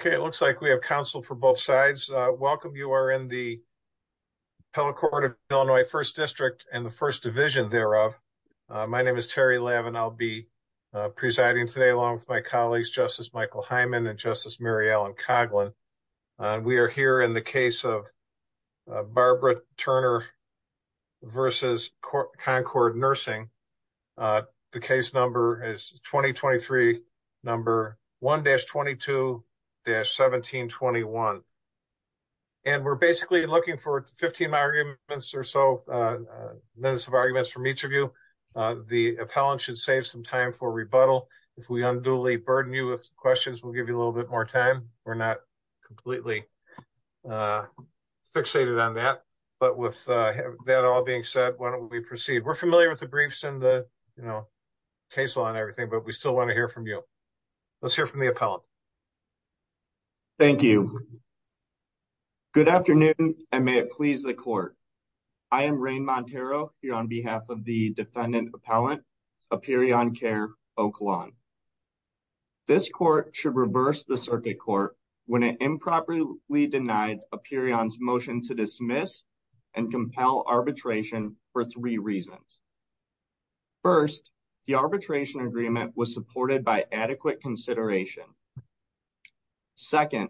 Okay, it looks like we have counsel for both sides. Welcome. You are in the. Hello, court of Illinois 1st district and the 1st division thereof. My name is Terry lab, and I'll be presiding today along with my colleagues. Justice Michael Hyman and justice. Mary Ellen Coughlin. We are here in the case of Barbara Turner. Versus Concord nursing. The case number is 2023. Number 1 dash 22 dash 1721. And we're basically looking for 15 arguments or so, those arguments from each of you. The appellant should save some time for rebuttal. If we unduly burden you with questions, we'll give you a little bit more time. We're not. Completely fixated on that. But with that, all being said, why don't we proceed? We're familiar with the briefs and the, you know. Case law and everything, but we still want to hear from you. Let's hear from the appellant. Thank you. Good afternoon. And may it please the court. I am rain Montero here on behalf of the defendant appellant. A period on care. This court should reverse the circuit court. When it improperly denied a period on his motion to dismiss. And compel arbitration for 3 reasons. 1st, the arbitration agreement was supported by adequate consideration. 2nd,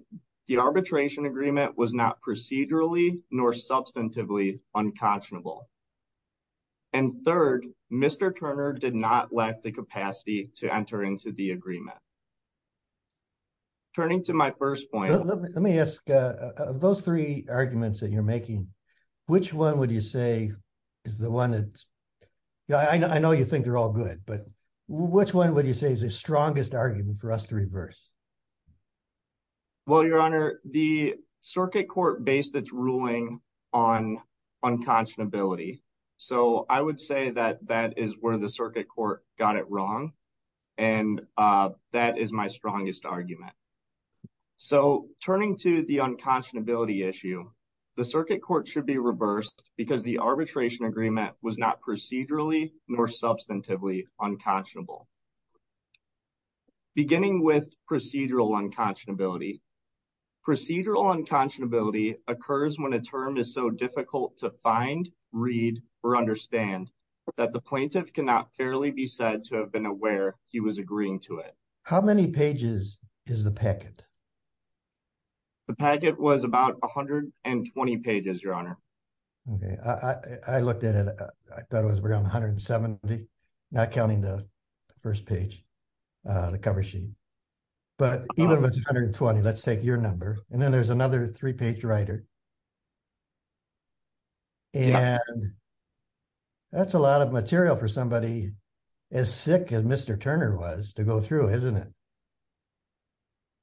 the arbitration agreement was not procedurally nor substantively unconscionable. And 3rd, Mr. Turner did not lack the capacity to enter into the agreement. Turning to my 1st point, let me ask those 3 arguments that you're making. Which 1, would you say is the 1 that. Yeah, I know you think they're all good, but which 1, would you say is the strongest argument for us to reverse. Well, your honor, the circuit court based its ruling on. Unconscionability, so I would say that that is where the circuit court got it wrong. And that is my strongest argument. So, turning to the unconscionability issue. The circuit court should be reversed because the arbitration agreement was not procedurally nor substantively unconscionable. Beginning with procedural unconscionability. Procedural unconscionability occurs when a term is so difficult to find, read or understand. That the plaintiff cannot fairly be said to have been aware he was agreeing to it. How many pages is the packet. The packet was about 120 pages, your honor. Okay, I looked at it, I thought it was around 170. Not counting the 1st page, the cover sheet. But even if it's 120, let's take your number and then there's another 3 page writer. And that's a lot of material for somebody. As sick as Mr. Turner was to go through, isn't it.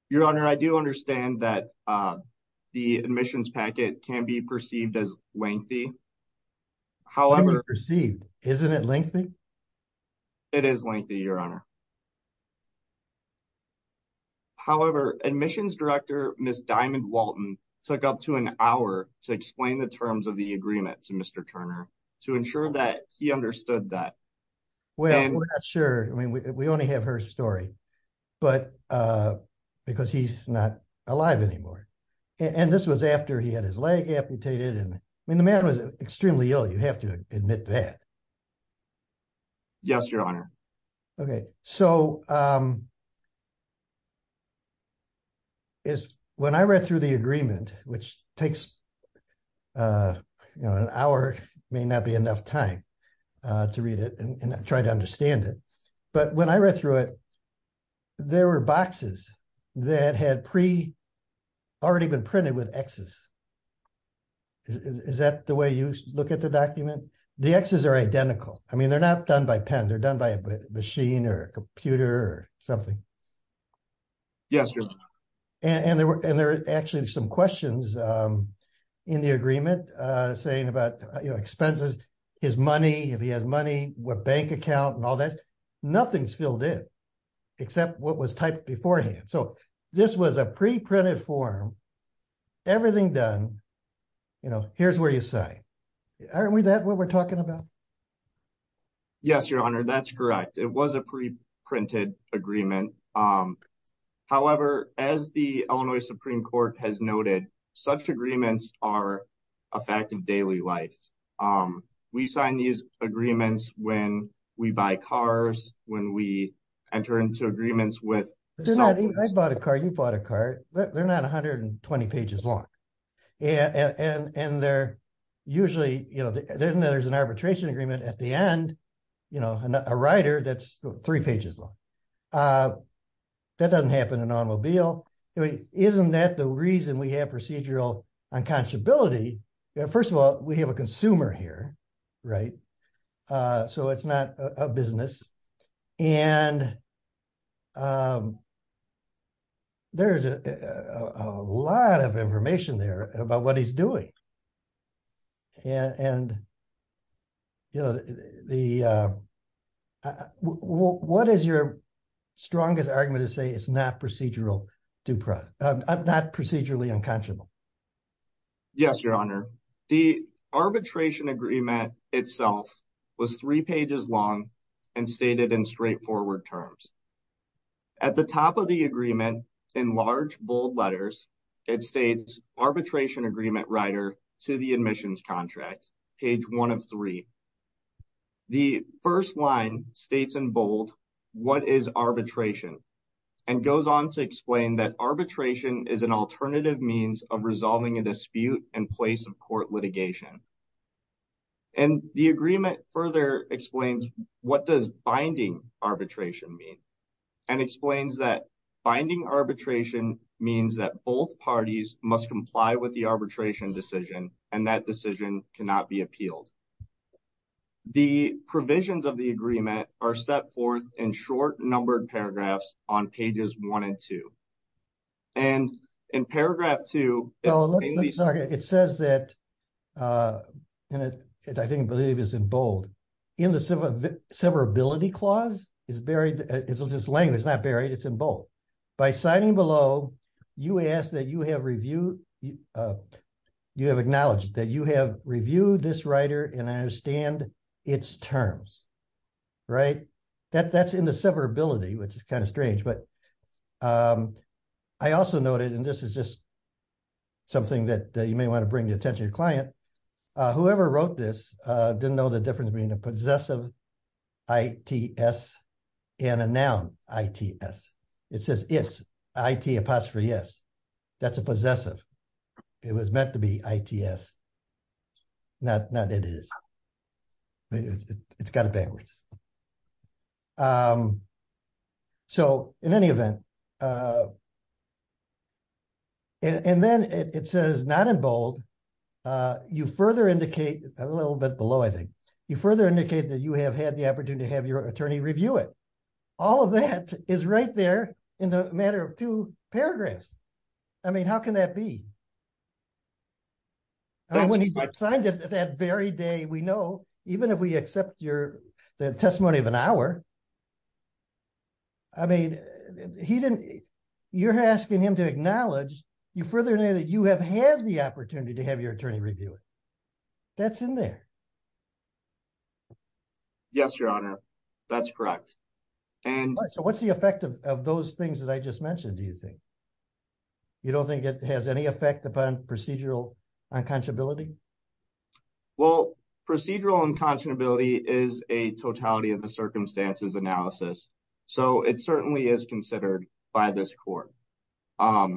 Your honor, I do understand that the admissions packet can be perceived as lengthy. However, isn't it lengthy. It is lengthy your honor. However, admissions director, Ms. Diamond Walton took up to an hour to explain the terms of the agreement to Mr. Turner to ensure that he understood that. Well, sure, I mean, we only have her story. But, uh, because he's not alive anymore. And this was after he had his leg amputated and I mean, the man was extremely ill. You have to admit that. Yes, your honor. Okay, so. Is when I read through the agreement, which takes. An hour may not be enough time. To read it and try to understand it, but when I read through it. There were boxes that had pre. Already been printed with X's is that the way you look at the document? The X's are identical. I mean, they're not done by pen. They're done by a machine or a computer or something. Yes, and there were and there are actually some questions in the agreement saying about expenses. His money, if he has money, what bank account and all that. Nothing's filled in except what was typed beforehand. So this was a pre printed form. Everything done, you know, here's where you say. Aren't we that what we're talking about? Yes, your honor. That's correct. It was a pre printed agreement. However, as the Illinois Supreme Court has noted such agreements are. A fact of daily life, we sign these agreements when we buy cars, when we. Enter into agreements with I bought a car, you bought a car. They're not 120 pages long. And they're usually, you know, there's an arbitration agreement at the end. You know, a writer that's 3 pages long. Uh, that doesn't happen in automobile. Isn't that the reason we have procedural unconscionability? Yeah, 1st of all, we have a consumer here, right? Uh, so it's not a business and. Um, there's a lot of information there about what he's doing. Yeah, and, you know, the. What is your strongest argument to say it's not procedural. Do not procedurally unconscionable. Yes, your honor, the arbitration agreement itself. Was 3 pages long and stated in straightforward terms. At the top of the agreement in large, bold letters. It states arbitration agreement writer to the admissions contract page. 1 of 3. The 1st line states in bold. What is arbitration and goes on to explain that arbitration is an alternative means of resolving a dispute and place of court litigation. And the agreement further explains what does binding arbitration mean. And explains that finding arbitration means that both parties must comply with the arbitration decision and that decision cannot be appealed. The provisions of the agreement are set forth in short numbered paragraphs on pages 1 and 2. And in paragraph 2, it says that. And it, I think, believe is in bold. In the severability clause is buried. It's just language. It's not buried. It's in bold. By signing below, you ask that you have review. You have acknowledged that you have reviewed this writer and I understand. It's terms, right? That that's in the severability, which is kind of strange, but. I also noted, and this is just. Something that you may want to bring the attention of client. Whoever wrote this didn't know the difference between a possessive. I. T. S. and a noun. I. T. S. it says it's. I. T. apostrophe. Yes, that's a possessive. It was meant to be. I. T. S. Not not it is it's got a backwards. So, in any event. And then it says not in bold. You further indicate a little bit below. I think you further indicate that you have had the opportunity to have your attorney review it. All of that is right there in the matter of 2 paragraphs. I mean, how can that be when he's signed it that very day? We know even if we accept your testimony of an hour. I mean, he didn't. You're asking him to acknowledge you further that you have had the opportunity to have your attorney review it. That's in there. Yes, your honor. That's correct. And so what's the effect of those things that I just mentioned? Do you think. You don't think it has any effect upon procedural. Unconscionability well, procedural unconscionability is a totality of the circumstances analysis. So, it certainly is considered by this court. And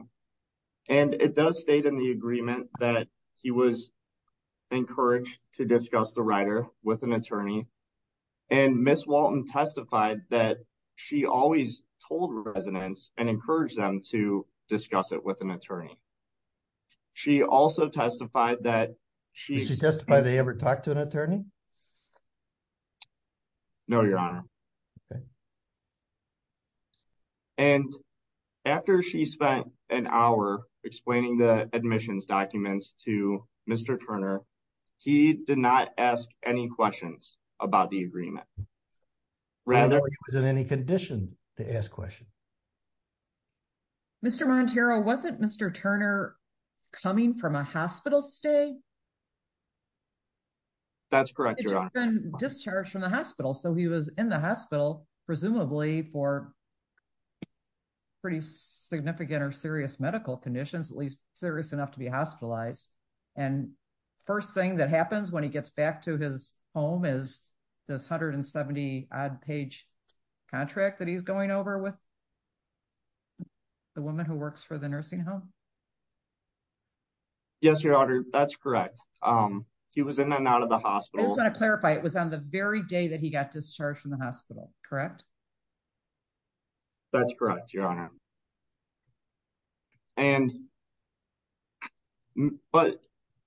it does state in the agreement that he was. Encouraged to discuss the writer with an attorney. And Miss Walton testified that she always told residents and encourage them to discuss it with an attorney. She also testified that she testified they ever talked to an attorney. No, your honor. Okay, and. After she spent an hour explaining the admissions documents to Mr. Turner. He did not ask any questions about the agreement. Rather than any condition to ask question. Mr. wasn't Mr. Turner. Coming from a hospital stay that's correct. You're discharged from the hospital. So he was in the hospital presumably for. Pretty significant or serious medical conditions, at least serious enough to be hospitalized. And 1st, thing that happens when he gets back to his home is. This 170 page contract that he's going over with. The woman who works for the nursing home. Yes, your honor. That's correct. Um, he was in and out of the hospital. I clarify it was on the very day that he got discharged from the hospital. Correct. That's correct. Your honor and. But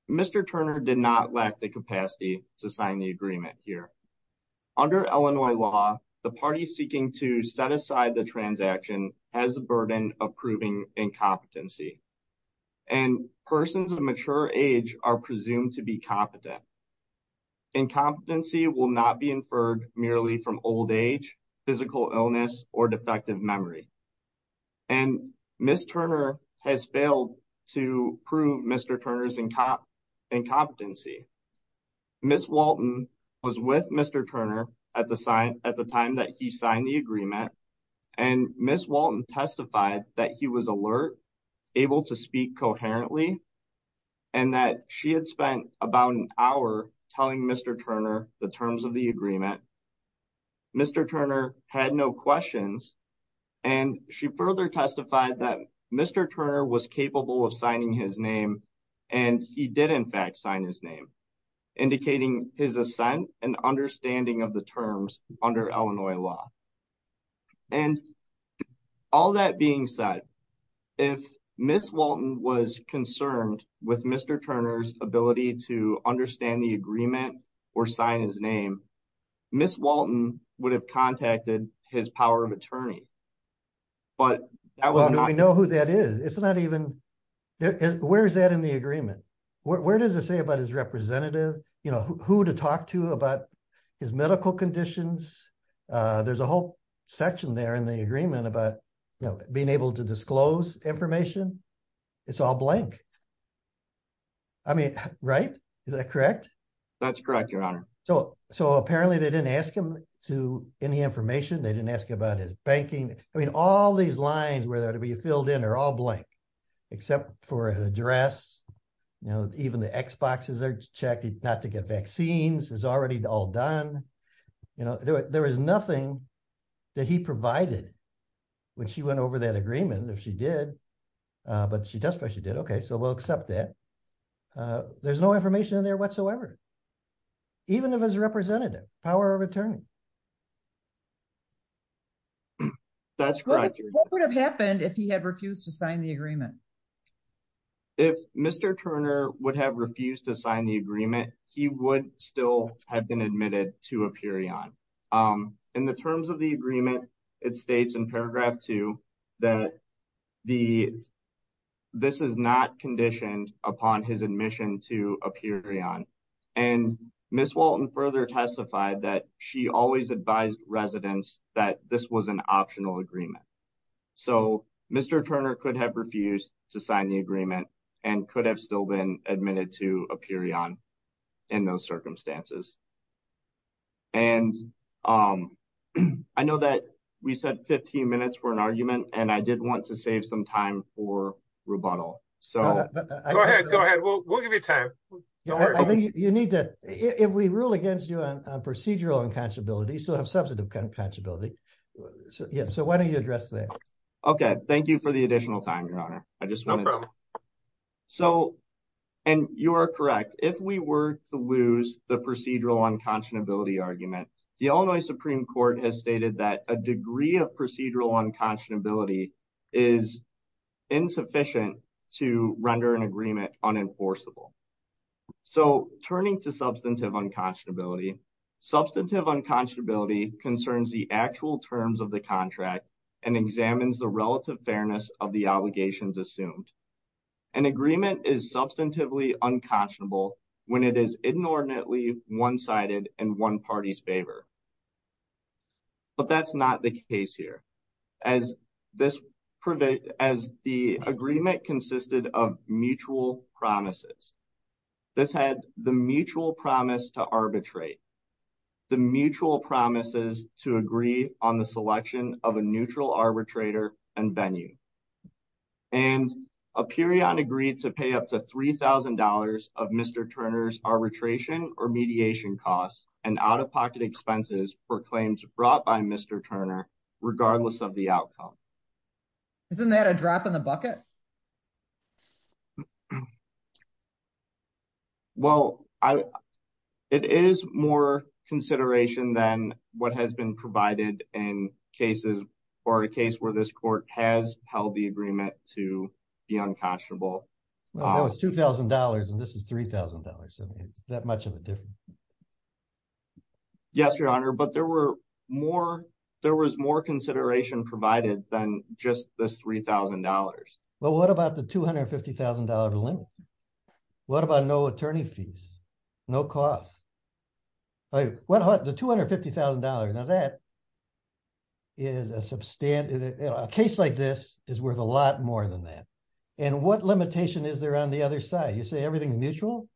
Mr. Turner did not lack the capacity to sign the agreement here. Under Illinois law, the party seeking to set aside the transaction has the burden of proving incompetency. And persons of mature age are presumed to be competent. In competency will not be inferred merely from old age. Physical illness or defective memory and miss Turner has failed to prove Mr. Turner's and cop. And competency miss Walton. Was with Mr. Turner at the sign at the time that he signed the agreement. And miss Walton testified that he was alert. Able to speak coherently and that she had spent about an hour telling Mr. Turner the terms of the agreement. Mr. Turner had no questions. And she further testified that Mr. Turner was capable of signing his name. And he did, in fact, sign his name, indicating his ascent and understanding of the terms under Illinois law. And all that being said. If miss Walton was concerned with Mr. Turner's ability to understand the agreement. Or sign his name, miss Walton would have contacted his power of attorney. But I know who that is. It's not even. Where is that in the agreement? Where does it say about his representative? Who to talk to about. His medical conditions, there's a whole. Section there in the agreement about being able to disclose information. It's all blank. I mean, right. Is that correct? That's correct. Your honor. So so apparently they didn't ask him to any information. They didn't ask about his banking. I mean, all these lines where there to be filled in are all blank. Except for an address, you know, even the X boxes are checked not to get vaccines is already all done. You know, there is nothing that he provided. When she went over that agreement, if she did. But she does, but she did. Okay. So we'll accept that. There's no information in there whatsoever, even if as a representative power of attorney. That's what would have happened if he had refused to sign the agreement. If Mr. Turner would have refused to sign the agreement, he would still have been admitted to a period. Um, in the terms of the agreement, it states in paragraph 2. That the, this is not conditioned upon his admission to a period. And Miss Walton further testified that she always advised residents that this was an optional agreement. So, Mr. Turner could have refused to sign the agreement. And could have still been admitted to a period on. In those circumstances, and, um, I know that we said 15 minutes for an argument and I did want to save some time for rebuttal. So go ahead. Go ahead. We'll, we'll give you time. You need that if we rule against you on procedural and possibility, so I have substantive kind of possibility. So, yeah, so why don't you address that? Okay. Thank you for the additional time. Your honor. I just want to. So, and you are correct if we were to lose the procedural unconscionability argument, the Illinois Supreme Court has stated that a degree of procedural unconscionability. Is insufficient to render an agreement on enforceable. So, turning to substantive unconscionability. Substantive unconscionability concerns the actual terms of the contract. And examines the relative fairness of the obligations assumed. An agreement is substantively unconscionable. When it is inordinately 1 sided and 1 parties favor. But that's not the case here. As this as the agreement consisted of mutual promises. This had the mutual promise to arbitrate. The mutual promises to agree on the selection of a neutral arbitrator and venue. And a period agreed to pay up to 3000 dollars of Mr. Turner's arbitration or mediation costs and out of pocket expenses for claims brought by Mr. Turner. Regardless of the outcome, isn't that a drop in the bucket? Well, I. It is more consideration than what has been provided in cases. Or a case where this court has held the agreement to. The unconscionable, well, it's 2000 dollars and this is 3000 dollars. I mean, it's that much of a different. Yes, your honor, but there were more. There was more consideration provided than just the 3000 dollars. Well, what about the 250,000 dollars? What about no attorney fees? No cost. What the 250,000 dollars now that. Is a case like this is worth a lot more than that. And what limitation is there on the other side? You say everything mutual.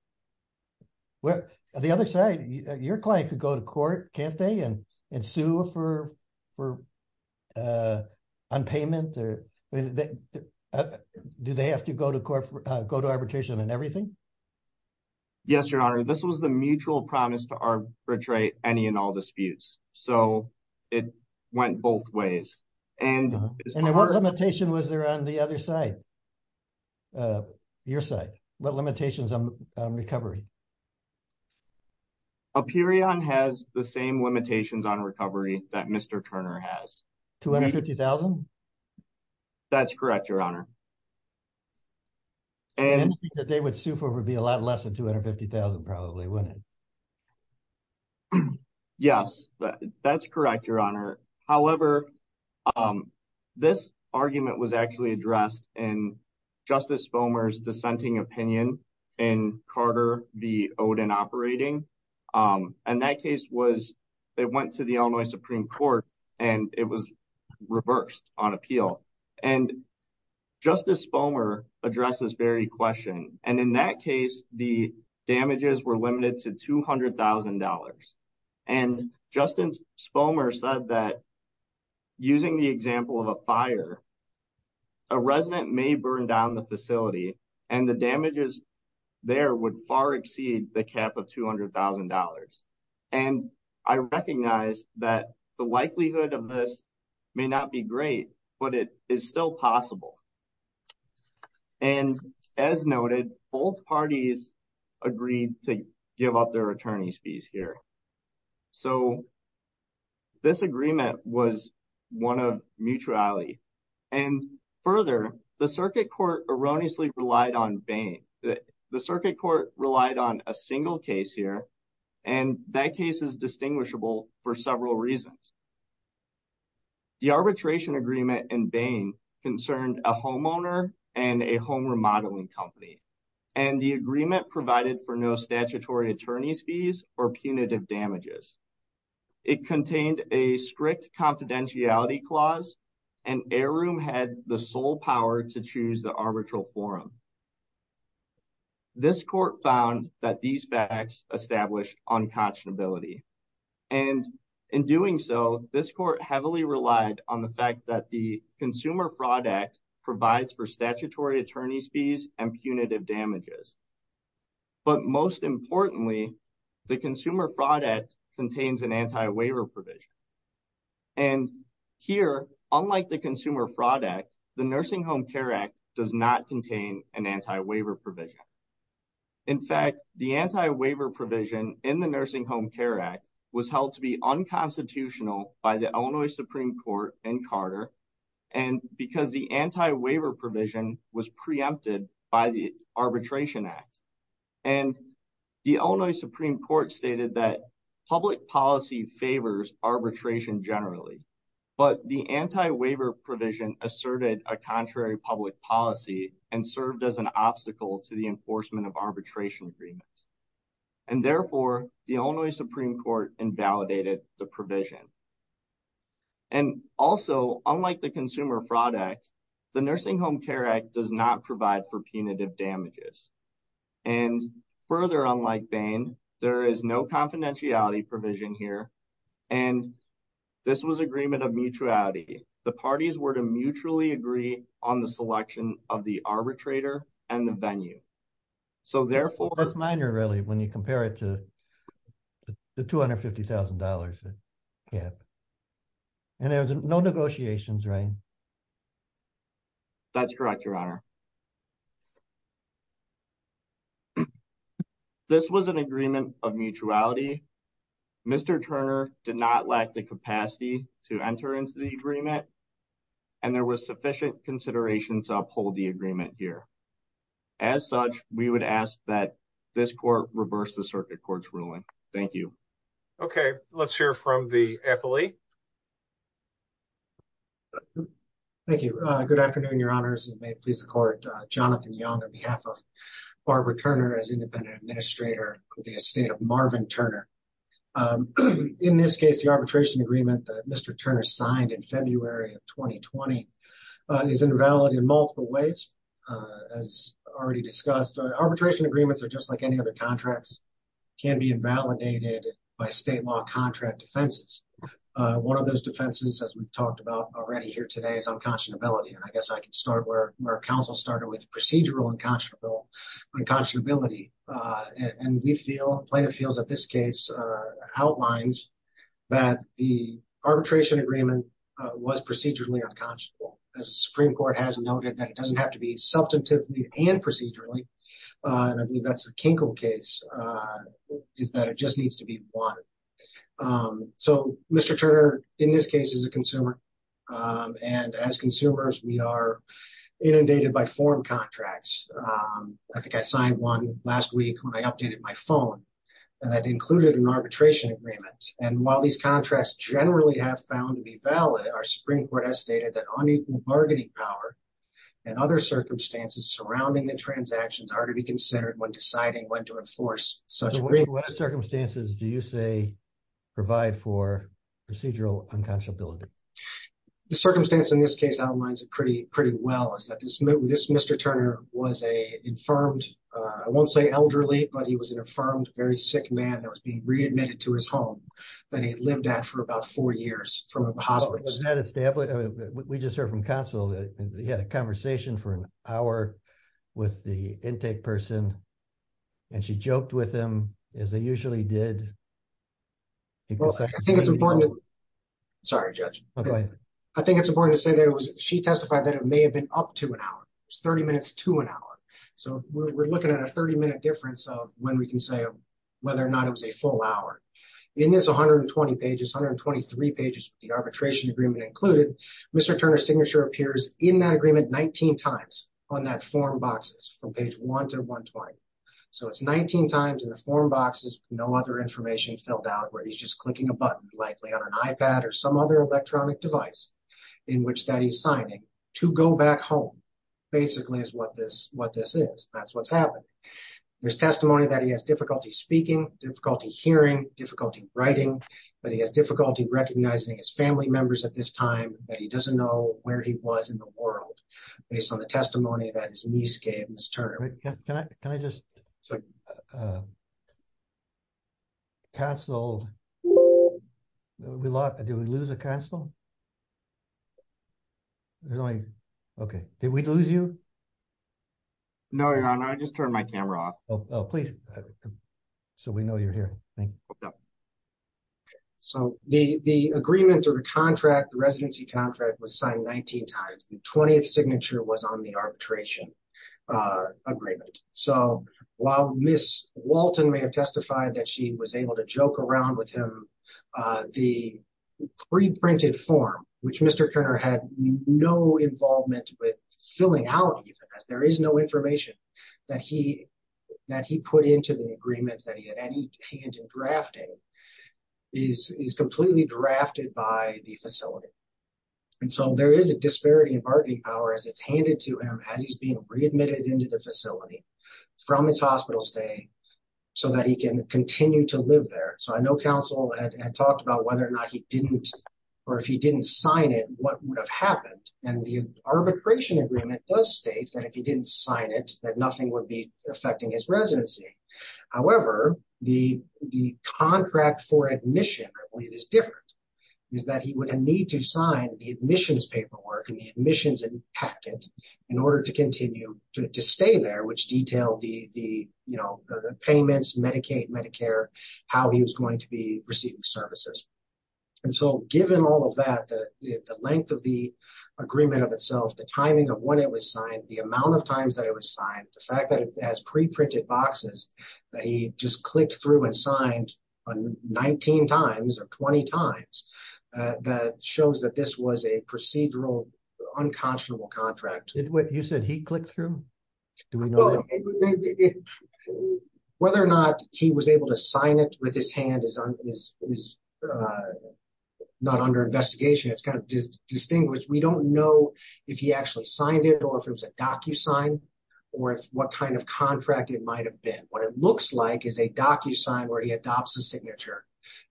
Well, the other side, your client could go to court can't they and and sue for. On payment, or do they have to go to go to arbitration and everything. Yes, your honor, this was the mutual promise to arbitrate any and all disputes. So. It went both ways and limitation was there on the other side. Your site, what limitations on recovery. A period has the same limitations on recovery that Mr. Turner has. 250,000 that's correct. Your honor. And that they would sue for would be a lot less than 250,000 probably. Yes, that's correct. Your honor. However, this argument was actually addressed and. Justice foamers dissenting opinion and Carter, the old and operating. Um, and that case was, it went to the only Supreme Court. And it was reversed on appeal and. Justice bomber addresses very question and in that case, the damages were limited to 200,000 dollars. And Justin's bomber said that. Using the example of a fire, a resident may burn down the facility and the damages. There would far exceed the cap of 200,000 dollars. And I recognize that the likelihood of this. May not be great, but it is still possible. And as noted, both parties. Agreed to give up their attorney's fees here. So, this agreement was. 1 of mutuality and further the circuit court erroneously relied on Bain. The circuit court relied on a single case here. And that case is distinguishable for several reasons. The arbitration agreement and Bain concerned a homeowner and a home remodeling company. And the agreement provided for no statutory attorney's fees or punitive damages. It contained a strict confidentiality clause. And air room had the sole power to choose the arbitral forum. This court found that these facts established unconscionability. And in doing so, this court heavily relied on the fact that the consumer product. Provides for statutory attorney's fees and punitive damages. But most importantly, the consumer product contains an anti waiver provision. And here, unlike the consumer product. The nursing home care act does not contain an anti waiver provision. In fact, the anti waiver provision in the nursing home care act. Was held to be unconstitutional by the Illinois Supreme Court and Carter. And because the anti waiver provision was preempted by the arbitration act. And the only Supreme Court stated that. Public policy favors arbitration generally. But the anti waiver provision asserted a contrary public policy. And served as an obstacle to the enforcement of arbitration agreements. And therefore, the only Supreme Court invalidated the provision. And also, unlike the consumer product. The nursing home care act does not provide for punitive damages. And further, unlike Bain, there is no confidentiality provision here. And this was agreement of mutuality. The parties were to mutually agree on the selection of the arbitrator and the venue. So, therefore, that's minor really when you compare it to. The 250,000 dollars. And there's no negotiations, right? That's correct, your honor. This was an agreement of mutuality. Mr. Turner did not lack the capacity to enter into the agreement. And there was sufficient consideration to uphold the agreement here. As such, we would ask that this court reverse the circuit court's ruling. Thank you. Okay, let's hear from the appellee. Thank you. Good afternoon, your honors. And may it please the court. Jonathan Young on behalf of Barbara Turner. As independent administrator of the estate of Marvin Turner. In this case, the arbitration agreement that Mr. Turner signed in February of 2020. Is invalid in multiple ways as already discussed. Arbitration agreements are just like any other contracts. Can be invalidated by state law contract defenses. One of those defenses, as we've talked about already here today, is unconscionability. And I guess I can start where our counsel started with procedural unconscionability. And we feel plaintiff feels that this case outlines. That the arbitration agreement was procedurally unconscionable. As the Supreme Court has noted that it doesn't have to be substantively and procedurally. And I believe that's the Kinkel case. Is that it just needs to be one. So Mr. Turner, in this case is a consumer. And as consumers, we are inundated by foreign contracts. I think I signed one last week when I updated my phone. And that included an arbitration agreement. And while these contracts generally have found to be valid. Our Supreme Court has stated that unequal bargaining power. And other circumstances surrounding the transactions. Are to be considered when deciding when to enforce such circumstances. Do you say provide for procedural unconscionability? The circumstance in this case outlines it pretty well. Is that this Mr. Turner was a infirmed. I won't say elderly, but he was an affirmed very sick man. That was being readmitted to his home. That he lived at for about four years from a hospital. Was that established? We just heard from counsel that he had a conversation. For an hour with the intake person. And she joked with him as they usually did. I think it's important. Sorry, judge. I think it's important to say that it was. She testified that it may have been up to an hour. It's 30 minutes to an hour. So we're looking at a 30 minute difference. So when we can say whether or not it was a full hour. In this 120 pages, 123 pages, the arbitration agreement included. Mr. Turner's signature appears in that agreement 19 times. On that form boxes from page 1 to 120. So it's 19 times in the form boxes. No other information filled out where he's just clicking a button. Likely on an iPad or some other electronic device. In which that he's signing to go back home. Basically is what this is. That's what's happened. There's testimony that he has difficulty speaking. Difficulty hearing. Difficulty writing. But he has difficulty recognizing his family members at this time. But he doesn't know where he was in the world. Based on the testimony that his niece gave Mr. Turner. Can I just cancel? Did we lose a council? Okay. Did we lose you? No, your honor. I just turned my camera off. Please. So we know you're here. So the agreement or the contract, the residency contract was signed 19 times. The 20th signature was on the arbitration agreement. So while Ms. Walton may have testified that she was able to joke around with him. The pre-printed form which Mr. Turner had no involvement with filling out. There is no information that he put into the agreement. That he had any hand in drafting is completely drafted by the facility. And so there is a disparity in bargaining power as it's handed to him. As he's being readmitted into the facility from his hospital stay. So that he can continue to live there. So I know council had talked about whether or not he didn't. Or if he didn't sign it, what would have happened? And the arbitration agreement does state that if he didn't sign it. That nothing would be affecting his residency. However, the contract for admission, I believe is different. Is that he would need to sign the admissions paperwork. And the admissions packet in order to continue to stay there. Which detailed the payments, Medicaid, Medicare. How he was going to be receiving services. And so given all of that. The length of the agreement of itself. The timing of when it was signed. The amount of times that it was signed. The fact that it has pre-printed boxes. That he just clicked through and signed 19 times or 20 times. That shows that this was a procedural unconscionable contract. Did what you said he clicked through? Whether or not he was able to sign it with his hand. Is not under investigation. It's kind of distinguished. We don't know if he actually signed it. Or if it was a docu-sign. Or if what kind of contract it might have been. What it looks like is a docu-sign. Where he adopts a signature.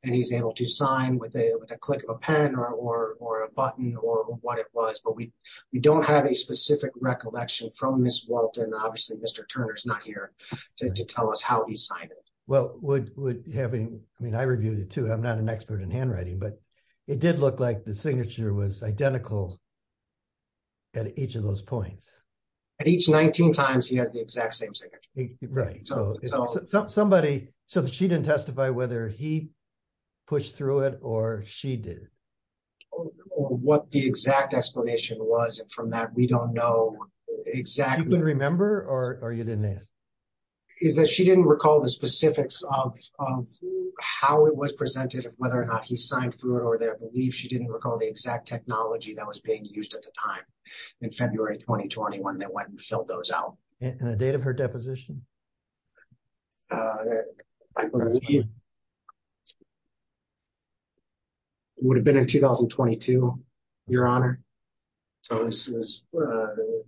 And he's able to sign with a click of a pen. Or a button. Or what it was. But we don't have a specific recollection from Ms. Walton. Obviously Mr. Turner's not here to tell us how he signed it. Well would having. I mean I reviewed it too. I'm not an expert in handwriting. But it did look like the signature was identical. At each of those points. At each 19 times he has the exact same signature. Right so somebody. So she didn't testify whether he pushed through it. Or she did. Or what the exact explanation was. And from that we don't know exactly. Do you remember? Or you didn't ask? Is that she didn't recall the specifics of how it was presented. Of whether or not he signed through it. Or that I believe she didn't recall the exact technology. That was being used at the time in February 2021. That went and filled those out. And the date of her deposition? Would have been in 2022 your honor. So this was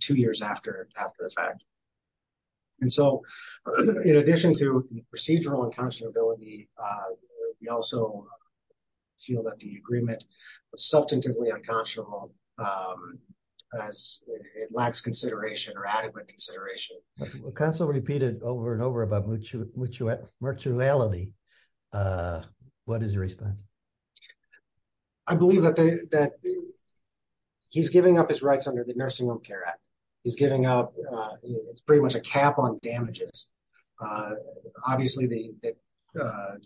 two years after the fact. And so in addition to procedural unconscionability. We also feel that the agreement was substantively unconscionable. As it lacks consideration or adequate consideration. Well counsel repeated over and over about mutuality. What is your response? I believe that he's giving up his rights under the Nursing Home Care Act. He's giving up. It's pretty much a cap on damages. Obviously the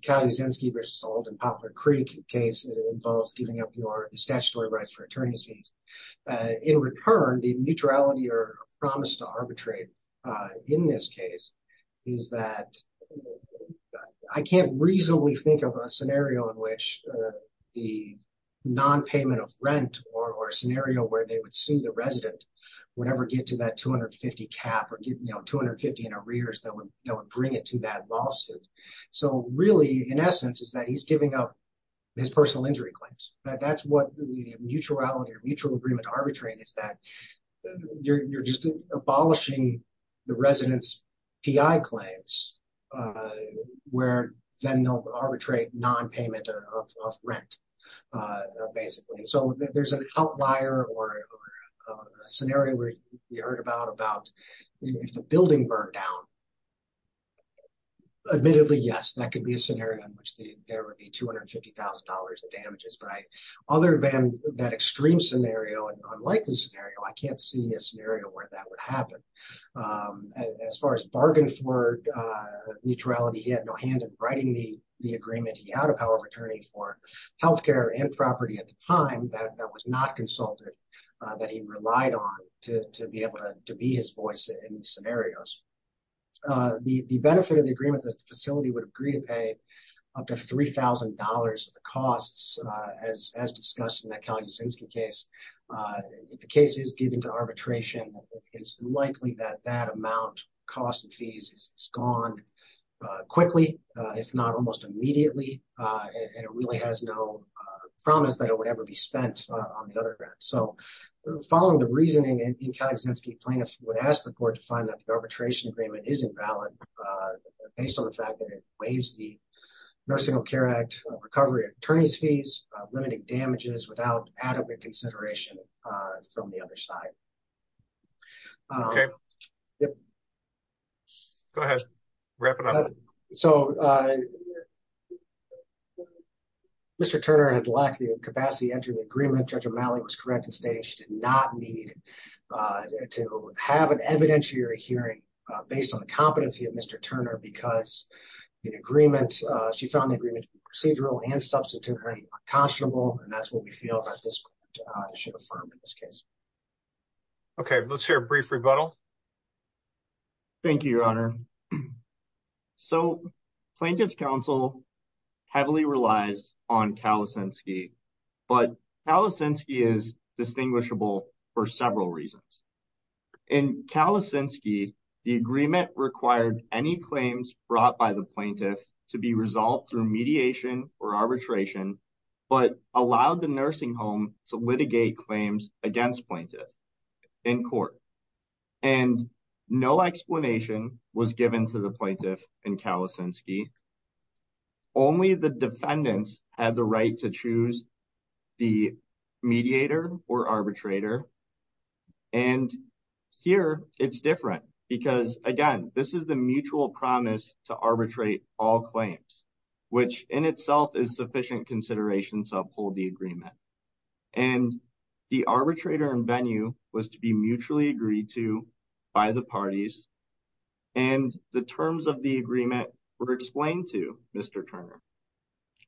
Cally Zinsky versus Alden Poplar Creek case. It involves giving up your statutory rights for attorney's fees. In return the mutuality or promise to arbitrate in this case. Is that I can't reasonably think of a scenario. In which the non-payment of rent. Or a scenario where they would sue the resident. Whatever get to that 250 cap. Or get you know 250 in arrears. That would bring it to that lawsuit. So really in essence. Is that he's giving up his personal injury claims. That's what the mutuality or mutual agreement arbitrate. Is that you're just abolishing the resident's PI claims. Where then they'll arbitrate non-payment of rent basically. So there's an outlier or a scenario. Where you heard about if the building burned down. Admittedly yes that could be a scenario. In which there would be $250,000 in damages. But other than that extreme scenario. An unlikely scenario. I can't see a scenario where that would happen. As far as bargain for mutuality. He had no hand in writing the agreement. He had a power of attorney for health care. And property at the time. That was not consulted. That he relied on. To be able to be his voice in these scenarios. The benefit of the agreement. Is the facility would agree to pay up to $3,000. Of the costs as discussed in that Kyle Yasinski case. The case is given to arbitration. It's likely that that amount. Cost and fees is gone quickly. If not almost immediately. And it really has no promise. That it would ever be spent on the other end. So following the reasoning. And Kyle Yasinski plaintiff would ask the court. To find that the arbitration agreement isn't valid. Based on the fact that it waives. The nursing home care act recovery attorney's fees. Limiting damages without adequate consideration. From the other side. Okay go ahead wrap it up. So Mr. Turner had lacked the capacity. Enter the agreement. Judge O'Malley was correct in stating. She did not need to have an evidentiary hearing. Based on the competency of Mr. Turner. Because the agreement. She found the agreement procedural. And substitute her unconscionable. And that's what we feel. That this should affirm in this case. Okay let's hear a brief rebuttal. Thank you your honor. So plaintiff's counsel. Heavily relies on Kyle Yasinski. But Kyle Yasinski is distinguishable. For several reasons. In Kyle Yasinski. The agreement required any claims. Brought by the plaintiff. To be resolved through mediation or arbitration. But allowed the nursing home. To litigate claims against plaintiff in court. And no explanation. Was given to the plaintiff in Kyle Yasinski. Only the defendants had the right to choose. The mediator or arbitrator. And here it's different. Because again this is the mutual promise. To arbitrate all claims. Which in itself is sufficient consideration. To uphold the agreement. And the arbitrator in venue. Was to be mutually agreed to by the parties. And the terms of the agreement. Were explained to Mr. Turner.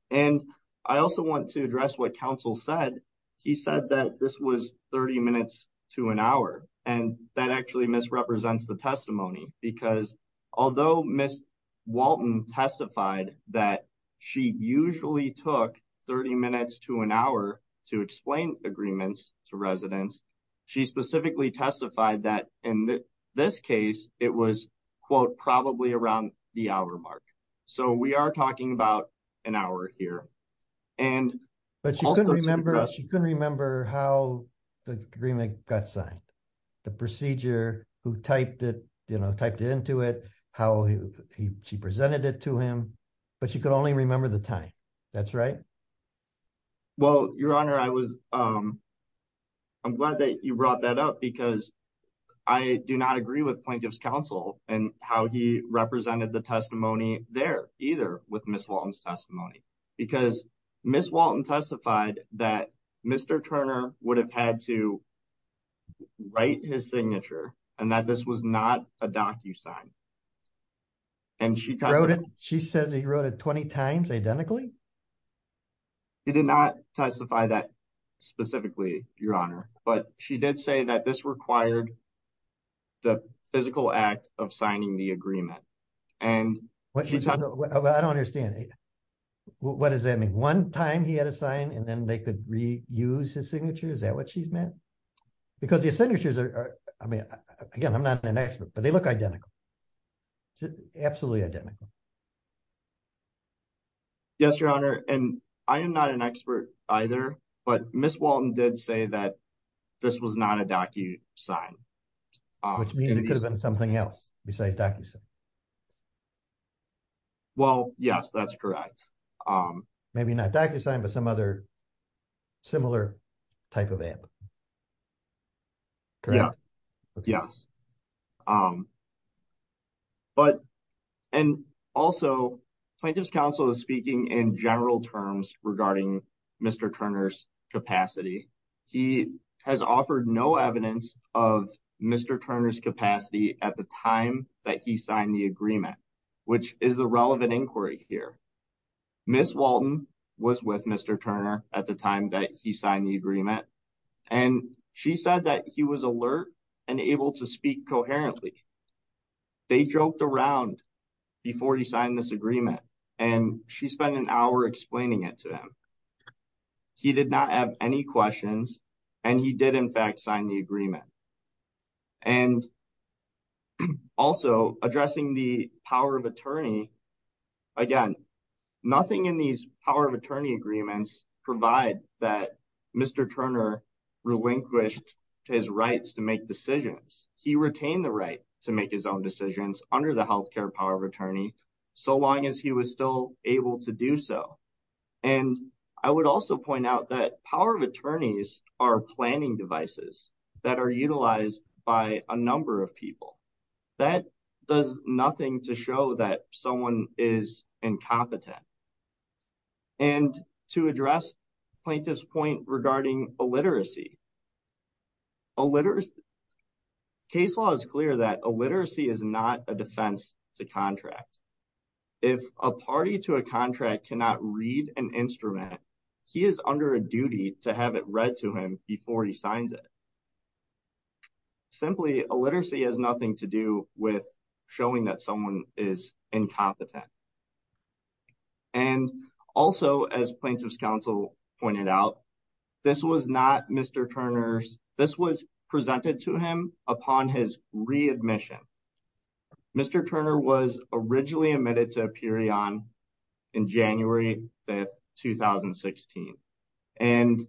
And I also want to address what counsel said. He said that this was 30 minutes to an hour. And that actually misrepresents the testimony. Because although Miss Walton testified. That she usually took 30 minutes to an hour. To explain agreements to residents. She specifically testified that in this case. It was quote probably around the hour mark. So we are talking about an hour here. And but she couldn't remember. She couldn't remember how the agreement got signed. The procedure who typed it. You know typed into it. How he she presented it to him. But she could only remember the time. That's right. Well your honor I was. I'm glad that you brought that up. Because I do not agree with plaintiff's counsel. And how he represented the testimony. There either with Miss Walton's testimony. Because Miss Walton testified. That Mr. Turner would have had to. Write his signature. And that this was not a docu sign. And she wrote it. She said he wrote it 20 times identically. He did not testify that specifically your honor. But she did say that this required. The physical act of signing the agreement. And what I don't understand. What does that mean? One time he had a sign. And then they could reuse his signature. Is that what she's meant? Because the signatures are. I mean again I'm not an expert. But they look identical. Absolutely identical. Yes your honor. And I am not an expert either. But Miss Walton did say that. This was not a docu sign. Which means it could have been something else. Besides docu sign. Well yes that's correct. Maybe not docu sign. But some other similar type of act. Yes. But and also plaintiff's counsel. Is speaking in general terms. Regarding Mr. Turner's capacity. He has offered no evidence of Mr. Turner's capacity. At the time that he signed the agreement. Which is the relevant inquiry here. Miss Walton was with Mr. Turner. At the time that he signed the agreement. And she said that he was alert. And able to speak coherently. They joked around. Before he signed this agreement. And she spent an hour explaining it to him. He did not have any questions. And he did in fact sign the agreement. And also addressing the power of attorney. Again nothing in these power of attorney agreements. Provide that Mr. Turner relinquished. His rights to make decisions. He retained the right to make his own decisions. Under the health care power of attorney. So long as he was still able to do so. And I would also point out. That power of attorneys are planning devices. That are utilized by a number of people. That does nothing to show that someone is incompetent. And to address plaintiff's point. Regarding illiteracy. Illiteracy. Case law is clear. That illiteracy is not a defense to contract. If a party to a contract cannot read an instrument. He is under a duty to have it read to him. Before he signs it. Simply illiteracy has nothing to do. With showing that someone is incompetent. And also as plaintiff's counsel pointed out. This was not Mr. Turner's. This was presented to him upon his readmission. Mr. Turner was originally admitted to Aperion. In January 5th, 2016. And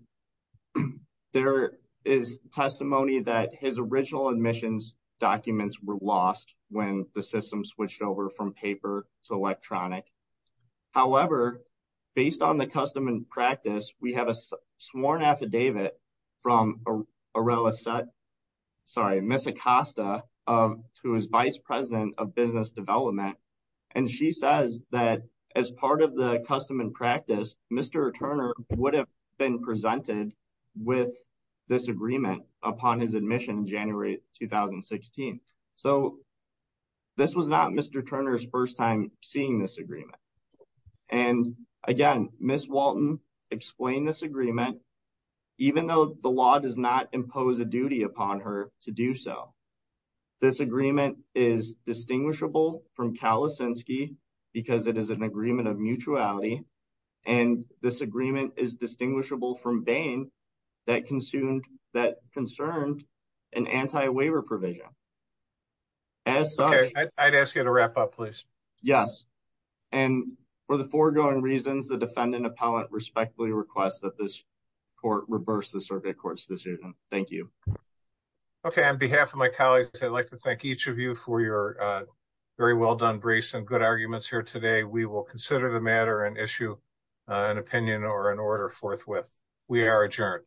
there is testimony. That his original admissions documents were lost. When the system switched over from paper to electronic. However, based on the custom and practice. We have a sworn affidavit. From Aurelia. Sorry, Miss Acosta. Um, who is vice president of business development. And she says that as part of the custom and practice. Mr. Turner would have been presented. With this agreement upon his admission. January 2016. So this was not Mr. Turner's first time. Seeing this agreement. And again, Miss Walton explained this agreement. Even though the law does not impose a duty upon her to do so. This agreement is distinguishable from Kalasinski. Because it is an agreement of mutuality. And this agreement is distinguishable from Bain. That consumed that concerned an anti-waiver provision. As I'd ask you to wrap up, please. Yes, and for the foregoing reasons. The defendant appellate respectfully request that this. Court reverse the circuit court's decision. Thank you. Okay, on behalf of my colleagues. I'd like to thank each of you for your. Very well done briefs and good arguments here today. We will consider the matter and issue. An opinion or an order forthwith. We are adjourned.